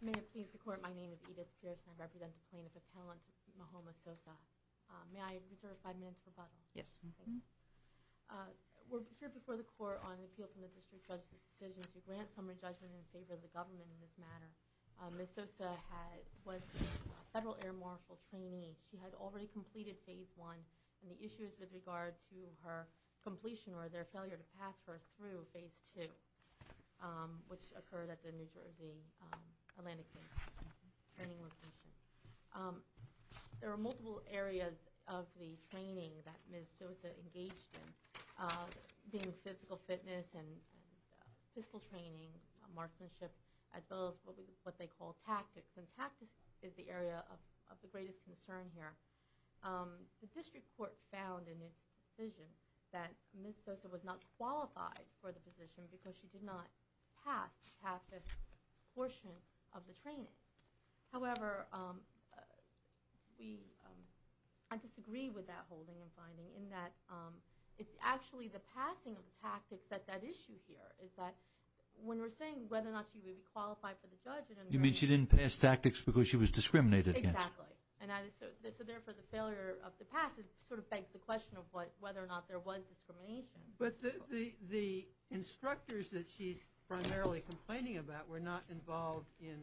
May it please the Court, my name is Edith Pierce, and I represent the plaintiff appellant Mahoma Sosa. May I reserve five minutes for rebuttal? Yes. We're here before the Court on an appeal from the District Judge's decision to grant summary judgment in favor of the government in this matter. Ms. Sosa was a Federal Air Marshal trainee. She had already completed Phase 1, and the issue is with regard to her completion or their failure to pass her through Phase 2, which occurred at the New Jersey Atlantic Training Location. There are multiple areas of the training that Ms. Sosa engaged in, being physical fitness and physical training, marksmanship, as well as what they call tactics, and tactics is the area of the greatest concern here. The District Court found in its decision that Ms. Sosa was not qualified for the position because she did not pass half the portion of the training. However, I disagree with that holding and finding in that it's actually the passing of the tactics that's at issue here. You mean she didn't pass tactics because she was discriminated against? Exactly. And so therefore the failure of the pass sort of begs the question of whether or not there was discrimination. But the instructors that she's primarily complaining about were not involved in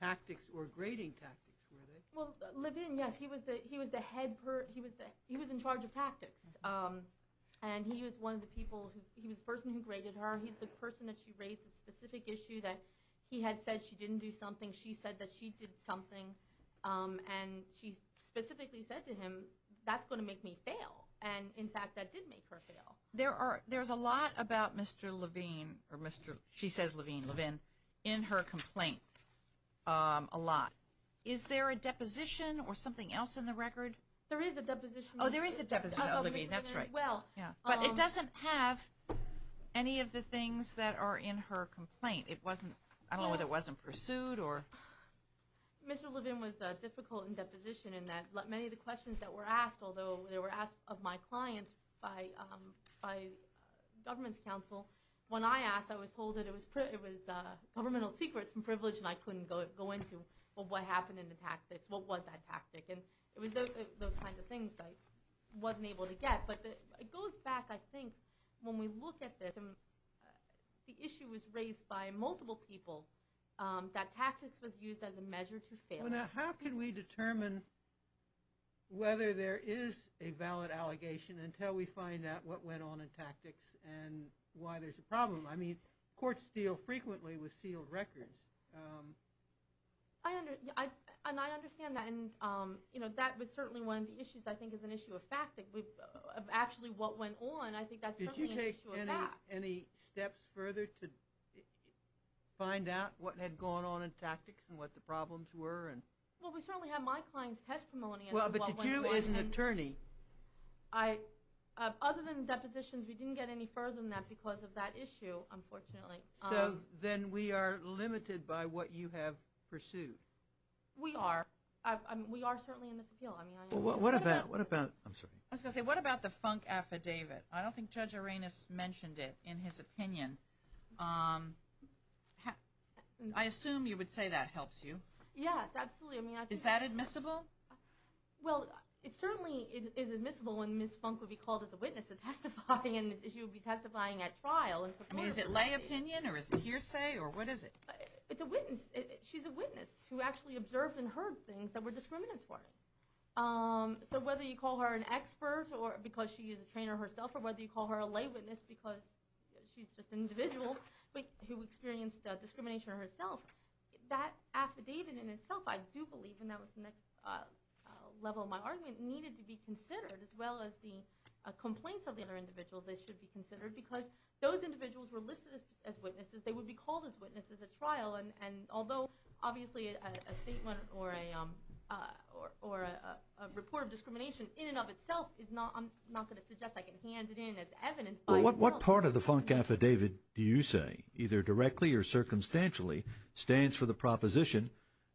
tactics or grading tactics, were they? Well, Levine, yes, he was the head – he was in charge of tactics, and he was one of the people – he was the person who graded her. He's the person that she raised the specific issue that he had said she didn't do something, she said that she did something, and she specifically said to him, that's going to make me fail. And, in fact, that did make her fail. There's a lot about Mr. Levine – she says Levine, Levine – in her complaint, a lot. Is there a deposition or something else in the record? There is a deposition. Oh, there is a deposition of Levine, that's right. Oh, of Mr. Levine as well. But it doesn't have any of the things that are in her complaint. It wasn't – I don't know whether it wasn't pursued or – Mr. Levine was difficult in deposition in that many of the questions that were asked, although they were asked of my client by government's counsel. When I asked, I was told that it was governmental secrets and privilege, and I couldn't go into what happened in the tactics, what was that tactic. And it was those kinds of things that I wasn't able to get. It goes back, I think, when we look at this, the issue was raised by multiple people, that tactics was used as a measure to fail. How can we determine whether there is a valid allegation until we find out what went on in tactics and why there's a problem? I mean, courts deal frequently with sealed records. And I understand that. And that was certainly one of the issues, I think, as an issue of fact, of actually what went on. I think that's certainly an issue of fact. Did you take any steps further to find out what had gone on in tactics and what the problems were? Well, we certainly had my client's testimony as to what went on. Well, but did you as an attorney? Other than depositions, we didn't get any further than that because of that issue, unfortunately. So then we are limited by what you have pursued. We are. We are certainly in this appeal. What about the Funk Affidavit? I don't think Judge Arenas mentioned it in his opinion. I assume you would say that helps you. Yes, absolutely. Is that admissible? Well, it certainly is admissible when Ms. Funk would be called as a witness to testify, and she would be testifying at trial. I mean, is it lay opinion, or is it hearsay, or what is it? It's a witness. She's a witness who actually observed and heard things that were discriminatory. So whether you call her an expert because she is a trainer herself, or whether you call her a lay witness because she's just an individual who experienced discrimination herself, that affidavit in itself, I do believe, and that was the next level of my argument, needed to be considered as well as the complaints of the other individuals. They should be considered because those individuals were listed as witnesses. They would be called as witnesses at trial, and although obviously a statement or a report of discrimination in and of itself, I'm not going to suggest I can hand it in as evidence by itself. Well, what part of the Funk Affidavit do you say, either directly or circumstantially, stands for the proposition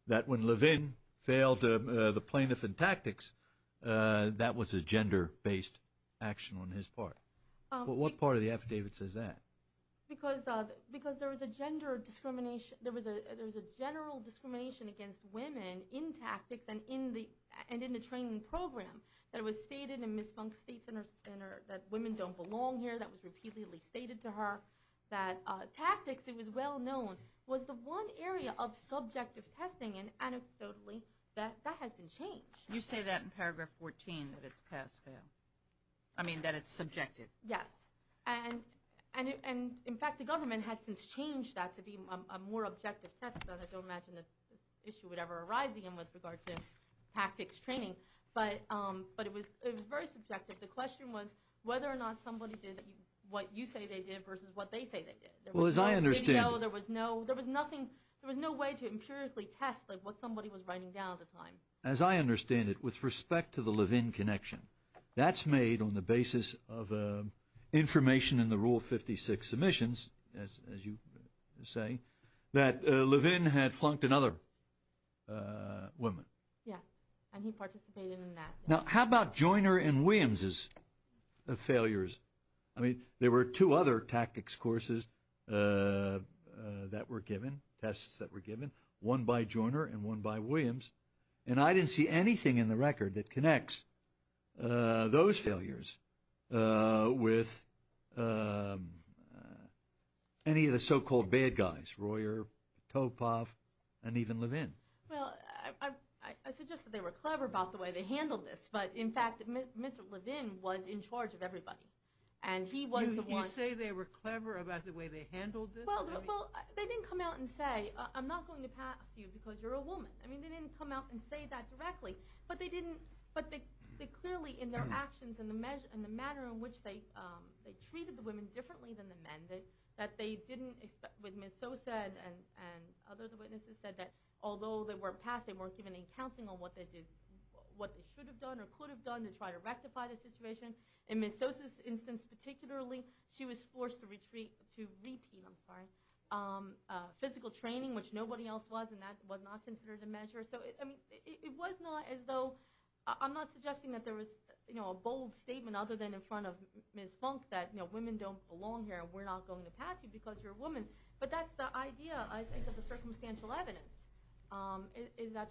that when Levin failed the plaintiff in tactics, that was a gender-based action on his part? What part of the affidavit says that? Because there was a gender discrimination. There was a general discrimination against women in tactics and in the training program that was stated in Ms. Funk's State Center that women don't belong here. That was repeatedly stated to her. Tactics, it was well known, was the one area of subjective testing, and anecdotally that has been changed. You say that in paragraph 14, that it's subjective. Yes, and in fact the government has since changed that to be a more objective test. I don't imagine that issue would ever arise again with regard to tactics training. But it was very subjective. The question was whether or not somebody did what you say they did versus what they say they did. There was no way to empirically test what somebody was writing down at the time. As I understand it, with respect to the Levin connection, that's made on the basis of information in the Rule 56 submissions, as you say, that Levin had flunked another woman. Yes, and he participated in that. Now, how about Joyner and Williams' failures? I mean, there were two other tactics courses that were given, tests that were given, one by Joyner and one by Williams, and I didn't see anything in the record that connects those failures with any of the so-called bad guys, Royer, Topov, and even Levin. Well, I suggest that they were clever about the way they handled this, but in fact Mr. Levin was in charge of everybody. You say they were clever about the way they handled this? Well, they didn't come out and say, I'm not going to pass you because you're a woman. I mean, they didn't come out and say that directly, but they clearly in their actions and the manner in which they treated the women differently than the men, that they didn't expect what Ms. So said and other witnesses said, that although they weren't passed, they weren't given any counseling on what they should have done or could have done to try to rectify the situation. In Ms. So's instance particularly, she was forced to retreat, to repeat, I'm sorry, physical training, which nobody else was, and that was not considered a measure. So it was not as though, I'm not suggesting that there was a bold statement other than in front of Ms. Funk that women don't belong here and we're not going to pass you because you're a woman. But that's the idea, I think, of the circumstantial evidence, is that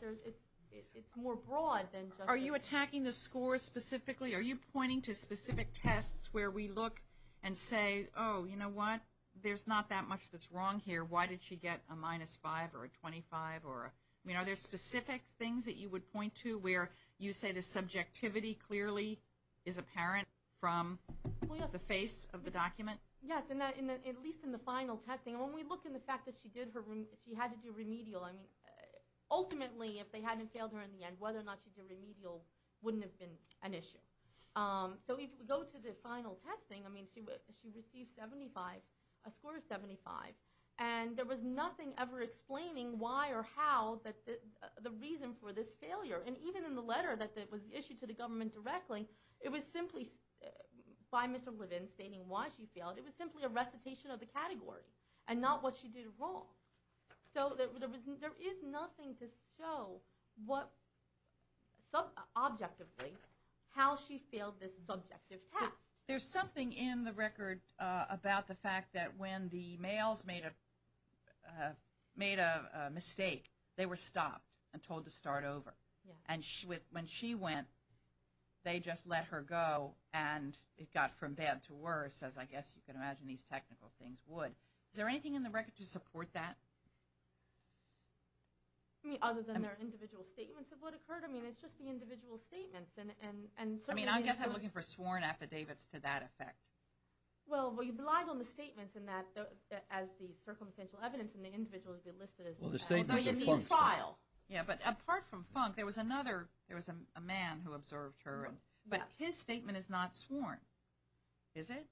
it's more broad than just... Are you attacking the scores specifically? Are you pointing to specific tests where we look and say, oh, you know what? There's not that much that's wrong here. Why did she get a minus 5 or a 25? I mean, are there specific things that you would point to where you say the subjectivity clearly is apparent from... Well, yes. ...the face of the document? Yes, at least in the final testing. When we look in the fact that she had to do remedial, I mean, ultimately if they hadn't failed her in the end, whether or not she did remedial wouldn't have been an issue. So if we go to the final testing, I mean, she received 75, a score of 75, and there was nothing ever explaining why or how the reason for this failure. And even in the letter that was issued to the government directly, it was simply by Mr. Levin stating why she failed. It was simply a recitation of the category and not what she did wrong. So there is nothing to show objectively how she failed this subjective test. There's something in the record about the fact that when the males made a mistake, they were stopped and told to start over. And when she went, they just let her go, and it got from bad to worse, as I guess you can imagine these technical things would. Is there anything in the record to support that? I mean, other than their individual statements of what occurred? I mean, it's just the individual statements. I mean, I guess I'm looking for sworn affidavits to that effect. Well, you relied on the statements as the circumstantial evidence, and the individuals would be listed as well, though you need a file. Yeah, but apart from Funk, there was a man who observed her, but his statement is not sworn, is it?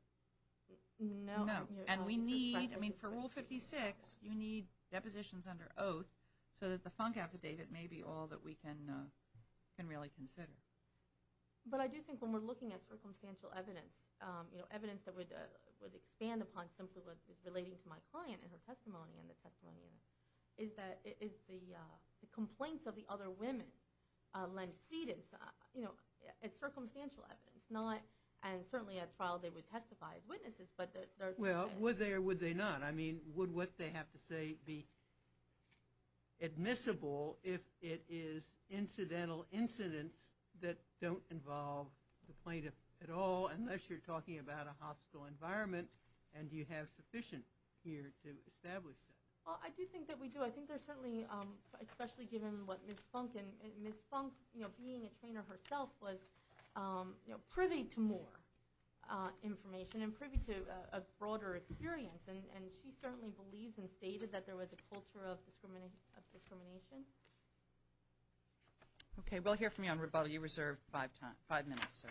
No. And we need, I mean, for Rule 56, you need depositions under oath so that the Funk affidavit may be all that we can really consider. But I do think when we're looking at circumstantial evidence, evidence that would expand upon simply what is relating to my client and her testimony and the testimony, is the complaints of the other women lend credence as circumstantial evidence, and certainly at trial they would testify as witnesses. Well, would they or would they not? I mean, would what they have to say be admissible if it is incidental incidents that don't involve the plaintiff at all, unless you're talking about a hostile environment and you have sufficient here to establish that? Well, I do think that we do. I think there's certainly, especially given what Ms. Funk, and Ms. Funk being a trainer herself was privy to more information and privy to a broader experience, and she certainly believes and stated that there was a culture of discrimination. Okay, we'll hear from you on rebuttal. You have five minutes, sir.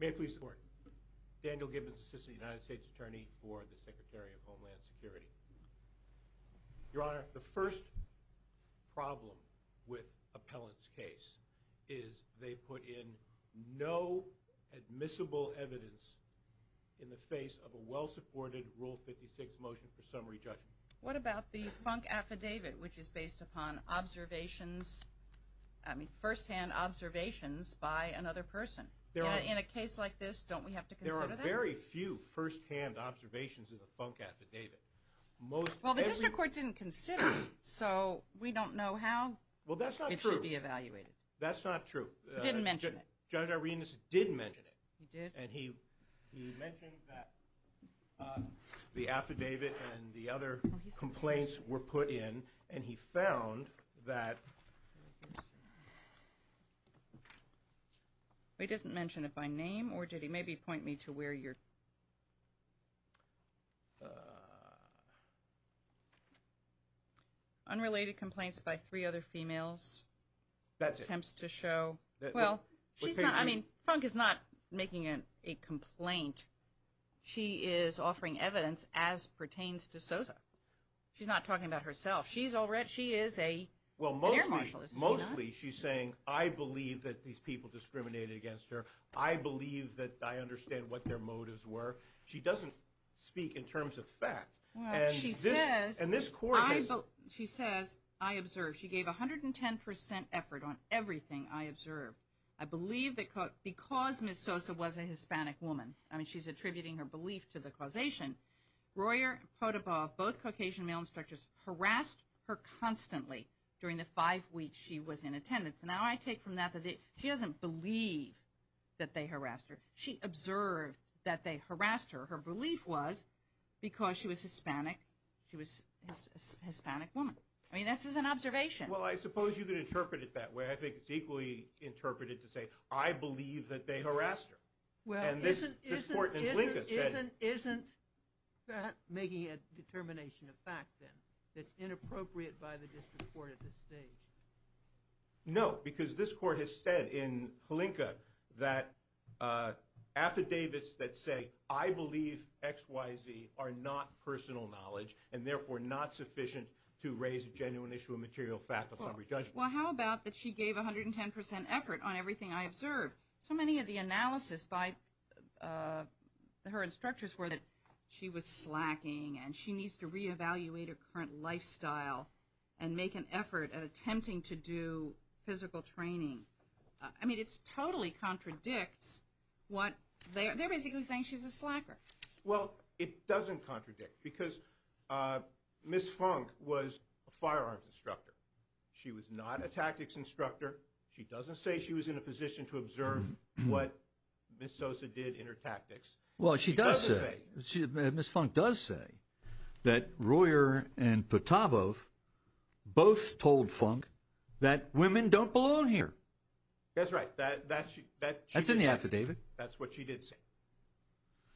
May I please report? Daniel Gibbons, Assistant United States Attorney for the Secretary of Homeland Security. Your Honor, the first problem with Appellant's case is they put in no admissible evidence in the face of a well-supported Rule 56 motion for summary judgment. What about the Funk Affidavit, which is based upon observations, I mean, firsthand observations by another person? In a case like this, don't we have to consider that? We have very few firsthand observations of the Funk Affidavit. Well, the district court didn't consider it, so we don't know how it should be evaluated. Well, that's not true. That's not true. He didn't mention it. Judge Arenas did mention it. He did? And he mentioned that the affidavit and the other complaints were put in, and he found that... He didn't mention it by name, or did he? Maybe point me to where you're... Unrelated complaints by three other females. That's it. Attempts to show. Well, she's not, I mean, Funk is not making a complaint. She is offering evidence as pertains to Sosa. She's not talking about herself. She is an air marshal. Well, mostly she's saying, I believe that these people discriminated against her. I believe that I understand what their motives were. She doesn't speak in terms of fact. And this court has... She says, I observed. She gave 110% effort on everything I observed. I believe that because Ms. Sosa was a Hispanic woman, I mean, she's attributing her belief to the causation, Royer and Podoba, both Caucasian male instructors, harassed her constantly during the five weeks she was in attendance. And now I take from that that she doesn't believe that they harassed her. She observed that they harassed her. Her belief was because she was Hispanic, she was a Hispanic woman. I mean, this is an observation. Well, I suppose you could interpret it that way. I think it's equally interpreted to say, I believe that they harassed her. Well, isn't that making a determination of fact then that's inappropriate by the district court at this stage? No, because this court has said in Hlinka that affidavits that say, I believe X, Y, Z are not personal knowledge and therefore not sufficient to raise a genuine issue of material fact of summary judgment. Well, how about that she gave 110% effort on everything I observed? So many of the analysis by her instructors were that she was slacking and she needs to reevaluate her current lifestyle and make an effort at attempting to do physical training. I mean, it totally contradicts what they're basically saying she's a slacker. Well, it doesn't contradict because Ms. Funk was a firearms instructor. She was not a tactics instructor. She doesn't say she was in a position to observe what Ms. Sosa did in her tactics. Well, she does say, Ms. Funk does say that Royer and Potapov both told Funk that women don't belong here. That's right. That's in the affidavit. That's what she did say.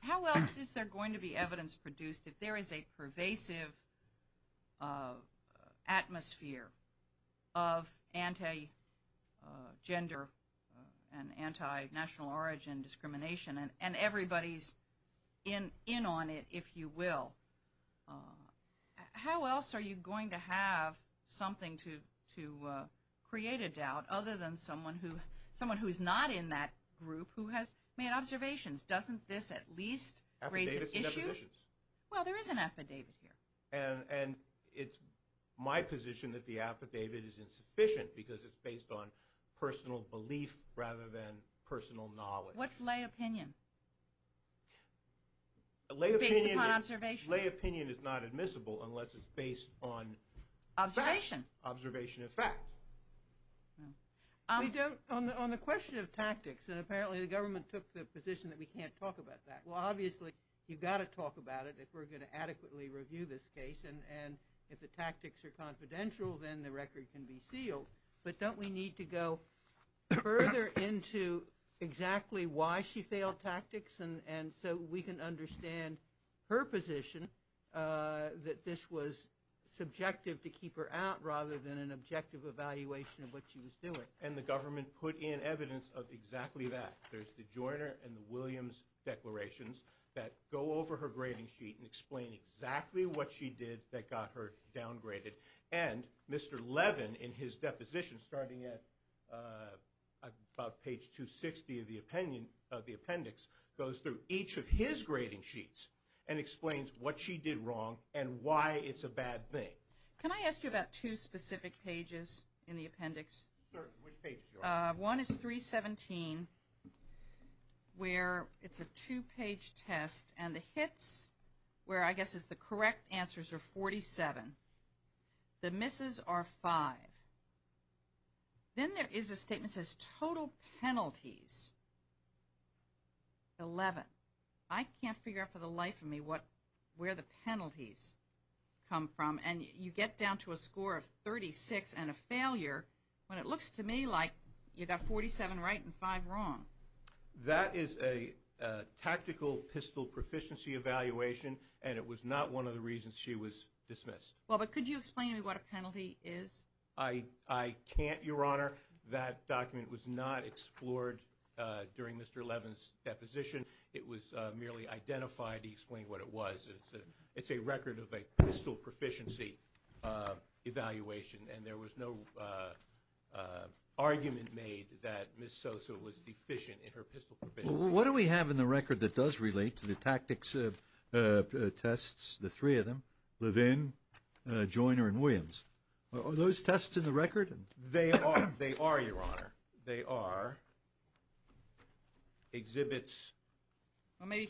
How else is there going to be evidence produced if there is a pervasive atmosphere of anti-gender and anti-national origin discrimination and everybody's in on it, if you will? How else are you going to have something to create a doubt other than someone who is not in that group who has made observations? Doesn't this at least raise an issue? Affidavits and depositions. Well, there is an affidavit here. And it's my position that the affidavit is insufficient because it's based on personal belief rather than personal knowledge. What's lay opinion? Based upon observation. Lay opinion is not admissible unless it's based on fact. Observation. Observation of fact. We don't, on the question of tactics, and apparently the government took the position that we can't talk about that. Well, obviously, you've got to talk about it if we're going to adequately review this case. And if the tactics are confidential, then the record can be sealed. But don't we need to go further into exactly why she failed tactics and so we can understand her position that this was subjective to keep her out rather than an objective evaluation of what she was doing? And the government put in evidence of exactly that. There's the Joyner and the Williams declarations that go over her grading sheet and explain exactly what she did that got her downgraded. And Mr. Levin, in his deposition, starting at about page 260 of the appendix, goes through each of his grading sheets and explains what she did wrong and why it's a bad thing. Can I ask you about two specific pages in the appendix? One is 317 where it's a two-page test and the hits where I guess the correct answers are 47. The misses are five. Then there is a statement that says total penalties, 11. I can't figure out for the life of me where the penalties come from. And you get down to a score of 36 and a failure when it looks to me like you got 47 right and five wrong. That is a tactical pistol proficiency evaluation and it was not one of the reasons she was dismissed. Well, but could you explain to me what a penalty is? I can't, Your Honor. That document was not explored during Mr. Levin's deposition. It was merely identified to explain what it was. It's a record of a pistol proficiency evaluation and there was no argument made that Ms. Sosa was deficient in her pistol proficiency. What do we have in the record that does relate to the tactics tests, the three of them, Levin, Joyner, and Williams? Are those tests in the record? They are, Your Honor. They are exhibits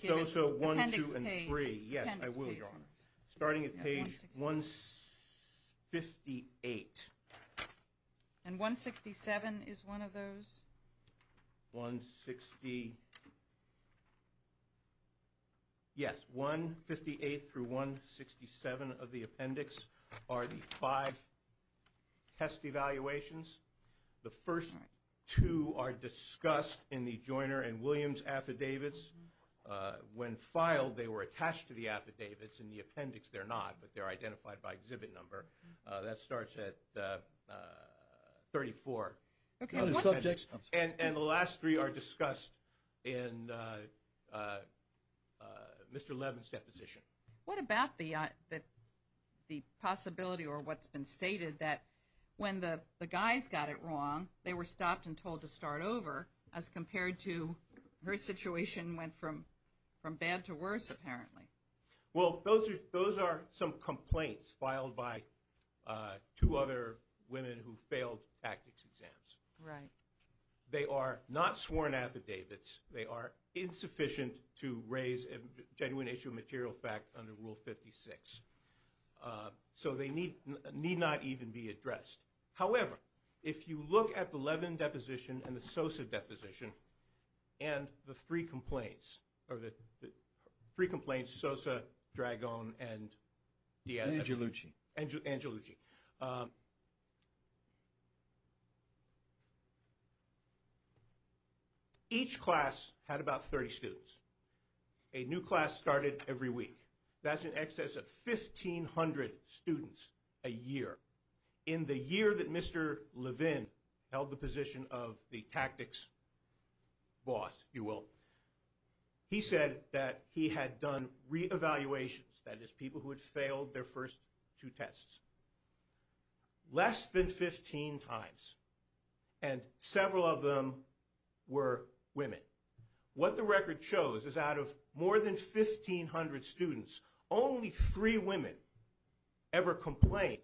Sosa 1, 2, and 3. Yes, I will, Your Honor. Starting at page 158. And 167 is one of those? 168 through 167 of the appendix are the five test evaluations. The first two are discussed in the Joyner and Williams affidavits. When filed, they were attached to the affidavits. In the appendix, they're not, but they're identified by exhibit number. That starts at 34. And the last three are discussed in Mr. Levin's deposition. What about the possibility or what's been stated that when the guys got it wrong, they were stopped and told to start over as compared to her situation went from bad to worse, apparently? Well, those are some complaints filed by two other women who failed tactics exams. Right. They are not sworn affidavits. They are insufficient to raise a genuine issue of material fact under Rule 56. So they need not even be addressed. However, if you look at the Levin deposition and the Sosa deposition and the three complaints, or the three complaints, Sosa, Dragone, and Diaz. Angelucci. Angelucci. Each class had about 30 students. A new class started every week. That's in excess of 1,500 students a year. In the year that Mr. Levin held the position of the tactics boss, if you will, he said that he had done re-evaluations, that is people who had failed their first two tests, less than 15 times. And several of them were women. What the record shows is out of more than 1,500 students, only three women ever complained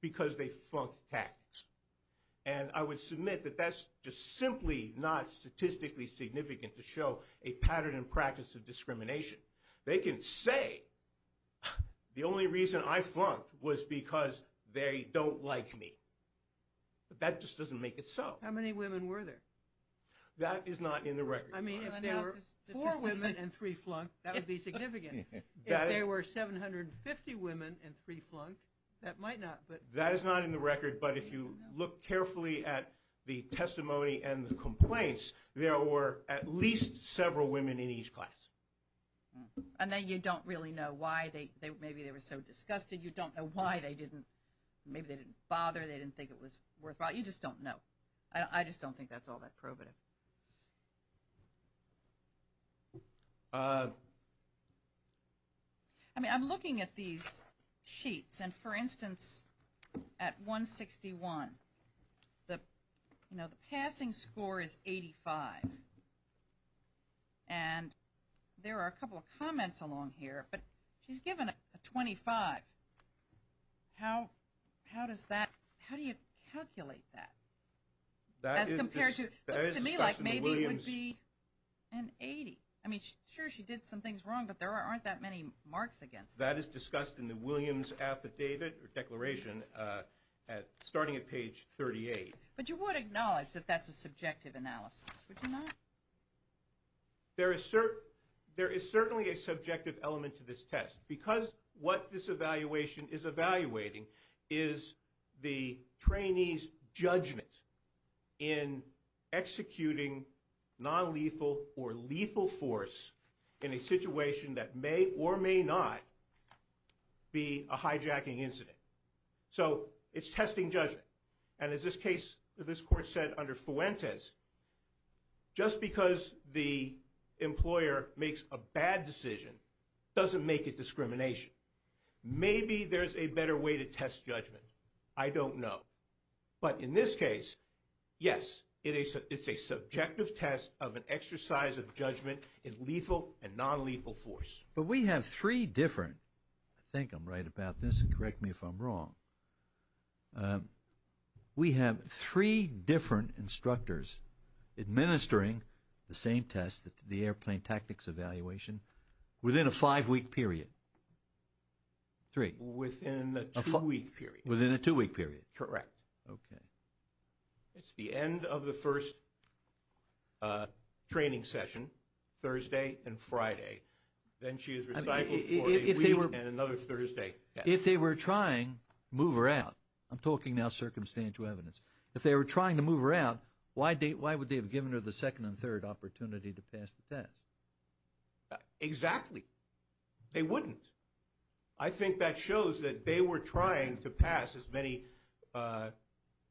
because they flunked tactics. And I would submit that that's just simply not statistically significant to show a pattern and practice of discrimination. They can say the only reason I flunked was because they don't like me. But that just doesn't make it so. How many women were there? That is not in the record. I mean, if there were four women and three flunked, that would be significant. If there were 750 women and three flunked, that might not. That is not in the record. But if you look carefully at the testimony and the complaints, there were at least several women in each class. And then you don't really know why. Maybe they were so disgusted. You don't know why. Maybe they didn't bother. They didn't think it was worthwhile. You just don't know. I just don't think that's all that probative. I mean, I'm looking at these sheets. And, for instance, at 161, the passing score is 85. And there are a couple of comments along here. But she's given a 25. How does that – how do you calculate that? As compared to – looks to me like maybe it would be an 80. I mean, sure, she did some things wrong, but there aren't that many marks against it. That is discussed in the Williams affidavit or declaration starting at page 38. But you would acknowledge that that's a subjective analysis, would you not? There is certainly a subjective element to this test. Because what this evaluation is evaluating is the trainee's judgment in executing nonlethal or lethal force in a situation that may or may not be a hijacking incident. So it's testing judgment. And as this case – this court said under Fuentes, just because the employer makes a bad decision doesn't make it discrimination. Maybe there's a better way to test judgment. I don't know. But in this case, yes, it's a subjective test of an exercise of judgment in lethal and nonlethal force. But we have three different – I think I'm right about this. And correct me if I'm wrong. We have three different instructors administering the same test, the airplane tactics evaluation, within a five-week period. Three. Within a two-week period. Within a two-week period. Correct. Okay. It's the end of the first training session, Thursday and Friday. Then she is recycled for a week and another Thursday. If they were trying to move her out – I'm talking now circumstantial evidence. If they were trying to move her out, why would they have given her the second and third opportunity to pass the test? Exactly. They wouldn't. I think that shows that they were trying to pass as many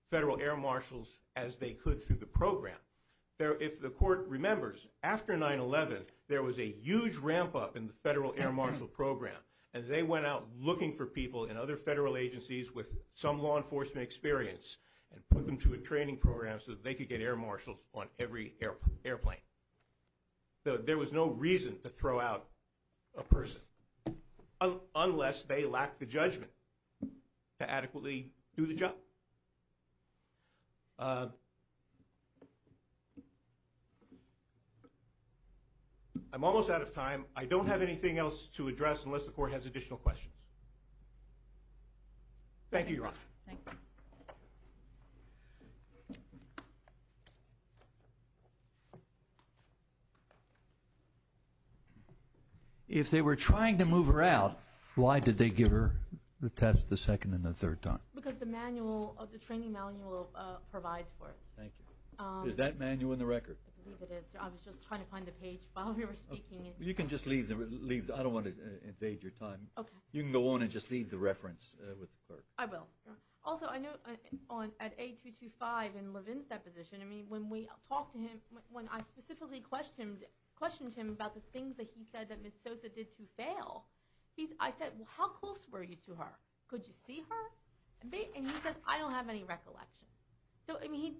federal air marshals as they could through the program. If the court remembers, after 9-11, there was a huge ramp-up in the federal air marshal program. And they went out looking for people in other federal agencies with some law enforcement experience and put them through a training program so that they could get air marshals on every airplane. There was no reason to throw out a person unless they lacked the judgment to adequately do the job. I'm almost out of time. I don't have anything else to address unless the court has additional questions. Thank you, Your Honor. Thank you. If they were trying to move her out, why did they give her the test the second and the third time? Because the manual, the training manual provides for it. Thank you. Is that manual in the record? I believe it is. I was just trying to find the page while we were speaking. You can just leave it. I don't want to invade your time. Okay. You can go on and just leave the reference with the clerk. I will. Also, I know at A225 in Levin's deposition, when we talked to him, when I specifically questioned him about the things that he said that Ms. Sosa did to fail, I said, how close were you to her? Could you see her? And he said, I don't have any recollection. So, I mean,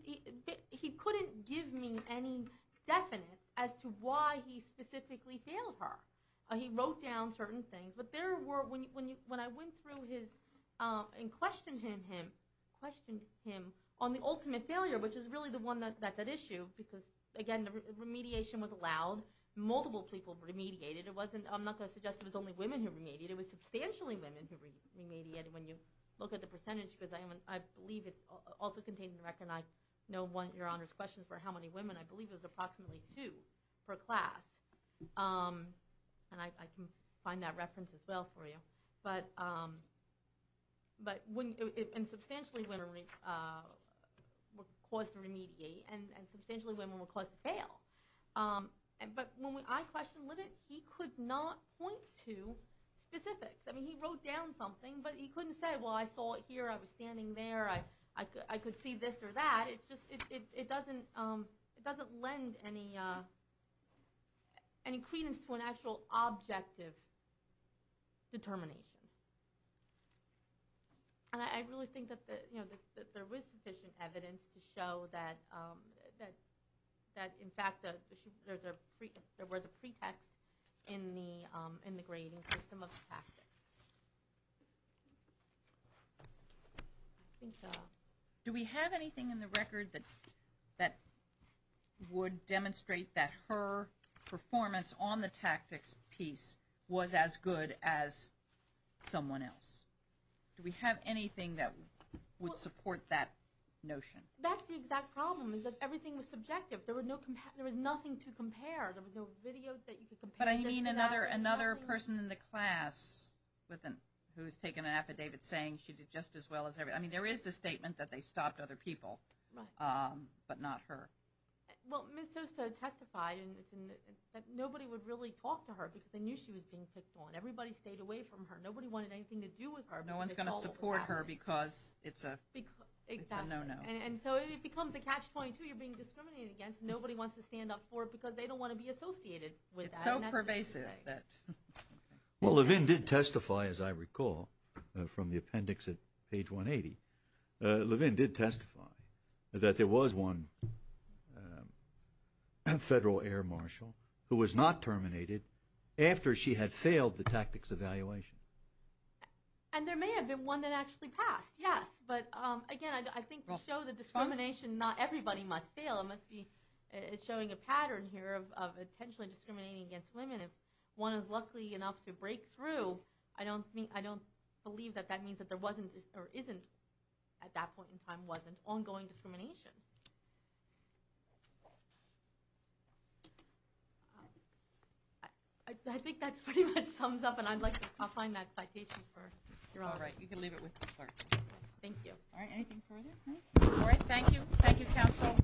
he couldn't give me any definite as to why he specifically failed her. He wrote down certain things. But there were, when I went through his and questioned him on the ultimate failure, which is really the one that's at issue because, again, the remediation was allowed. Multiple people remediated. I'm not going to suggest it was only women who remediated. It was substantially women who remediated. When you look at the percentage, because I believe it's also contained in the record, and I know your Honor's question for how many women, I believe it was approximately two per class. And I can find that reference as well for you. But substantially women were caused to remediate, and substantially women were caused to fail. But when I questioned Levin, he could not point to specifics. I mean, he wrote down something, but he couldn't say, well, I saw it here, I was standing there, I could see this or that. It's just it doesn't lend any credence to an actual objective determination. And I really think that there is sufficient evidence to show that, in fact, there was a pretext in the grading system of the tactics. Do we have anything in the record that would demonstrate that her performance on the tactics piece was as good as someone else? Do we have anything that would support that notion? That's the exact problem, is that everything was subjective. There was nothing to compare. There was no video that you could compare this to that. But I mean another person in the class who has taken an affidavit saying she did just as well as everybody. I mean, there is the statement that they stopped other people, but not her. Well, Ms. Sosta testified that nobody would really talk to her because they knew she was being picked on. Everybody stayed away from her. Nobody wanted anything to do with her. No one's going to support her because it's a no-no. And so it becomes a catch-22. You're being discriminated against. Nobody wants to stand up for it because they don't want to be associated with that. It's so pervasive. Well, Levin did testify, as I recall, from the appendix at page 180. Levin did testify that there was one federal air marshal who was not terminated after she had failed the tactics evaluation. And there may have been one that actually passed, yes. But, again, I think to show the discrimination, not everybody must fail. It must be showing a pattern here of intentionally discriminating against women. If one is lucky enough to break through, I don't believe that that means that there wasn't or isn't at that point in time wasn't ongoing discrimination. I think that pretty much sums up, and I'd like to find that citation. You're all right. You can leave it with the clerk. Thank you. All right, anything further? All right, thank you. Thank you, counsel.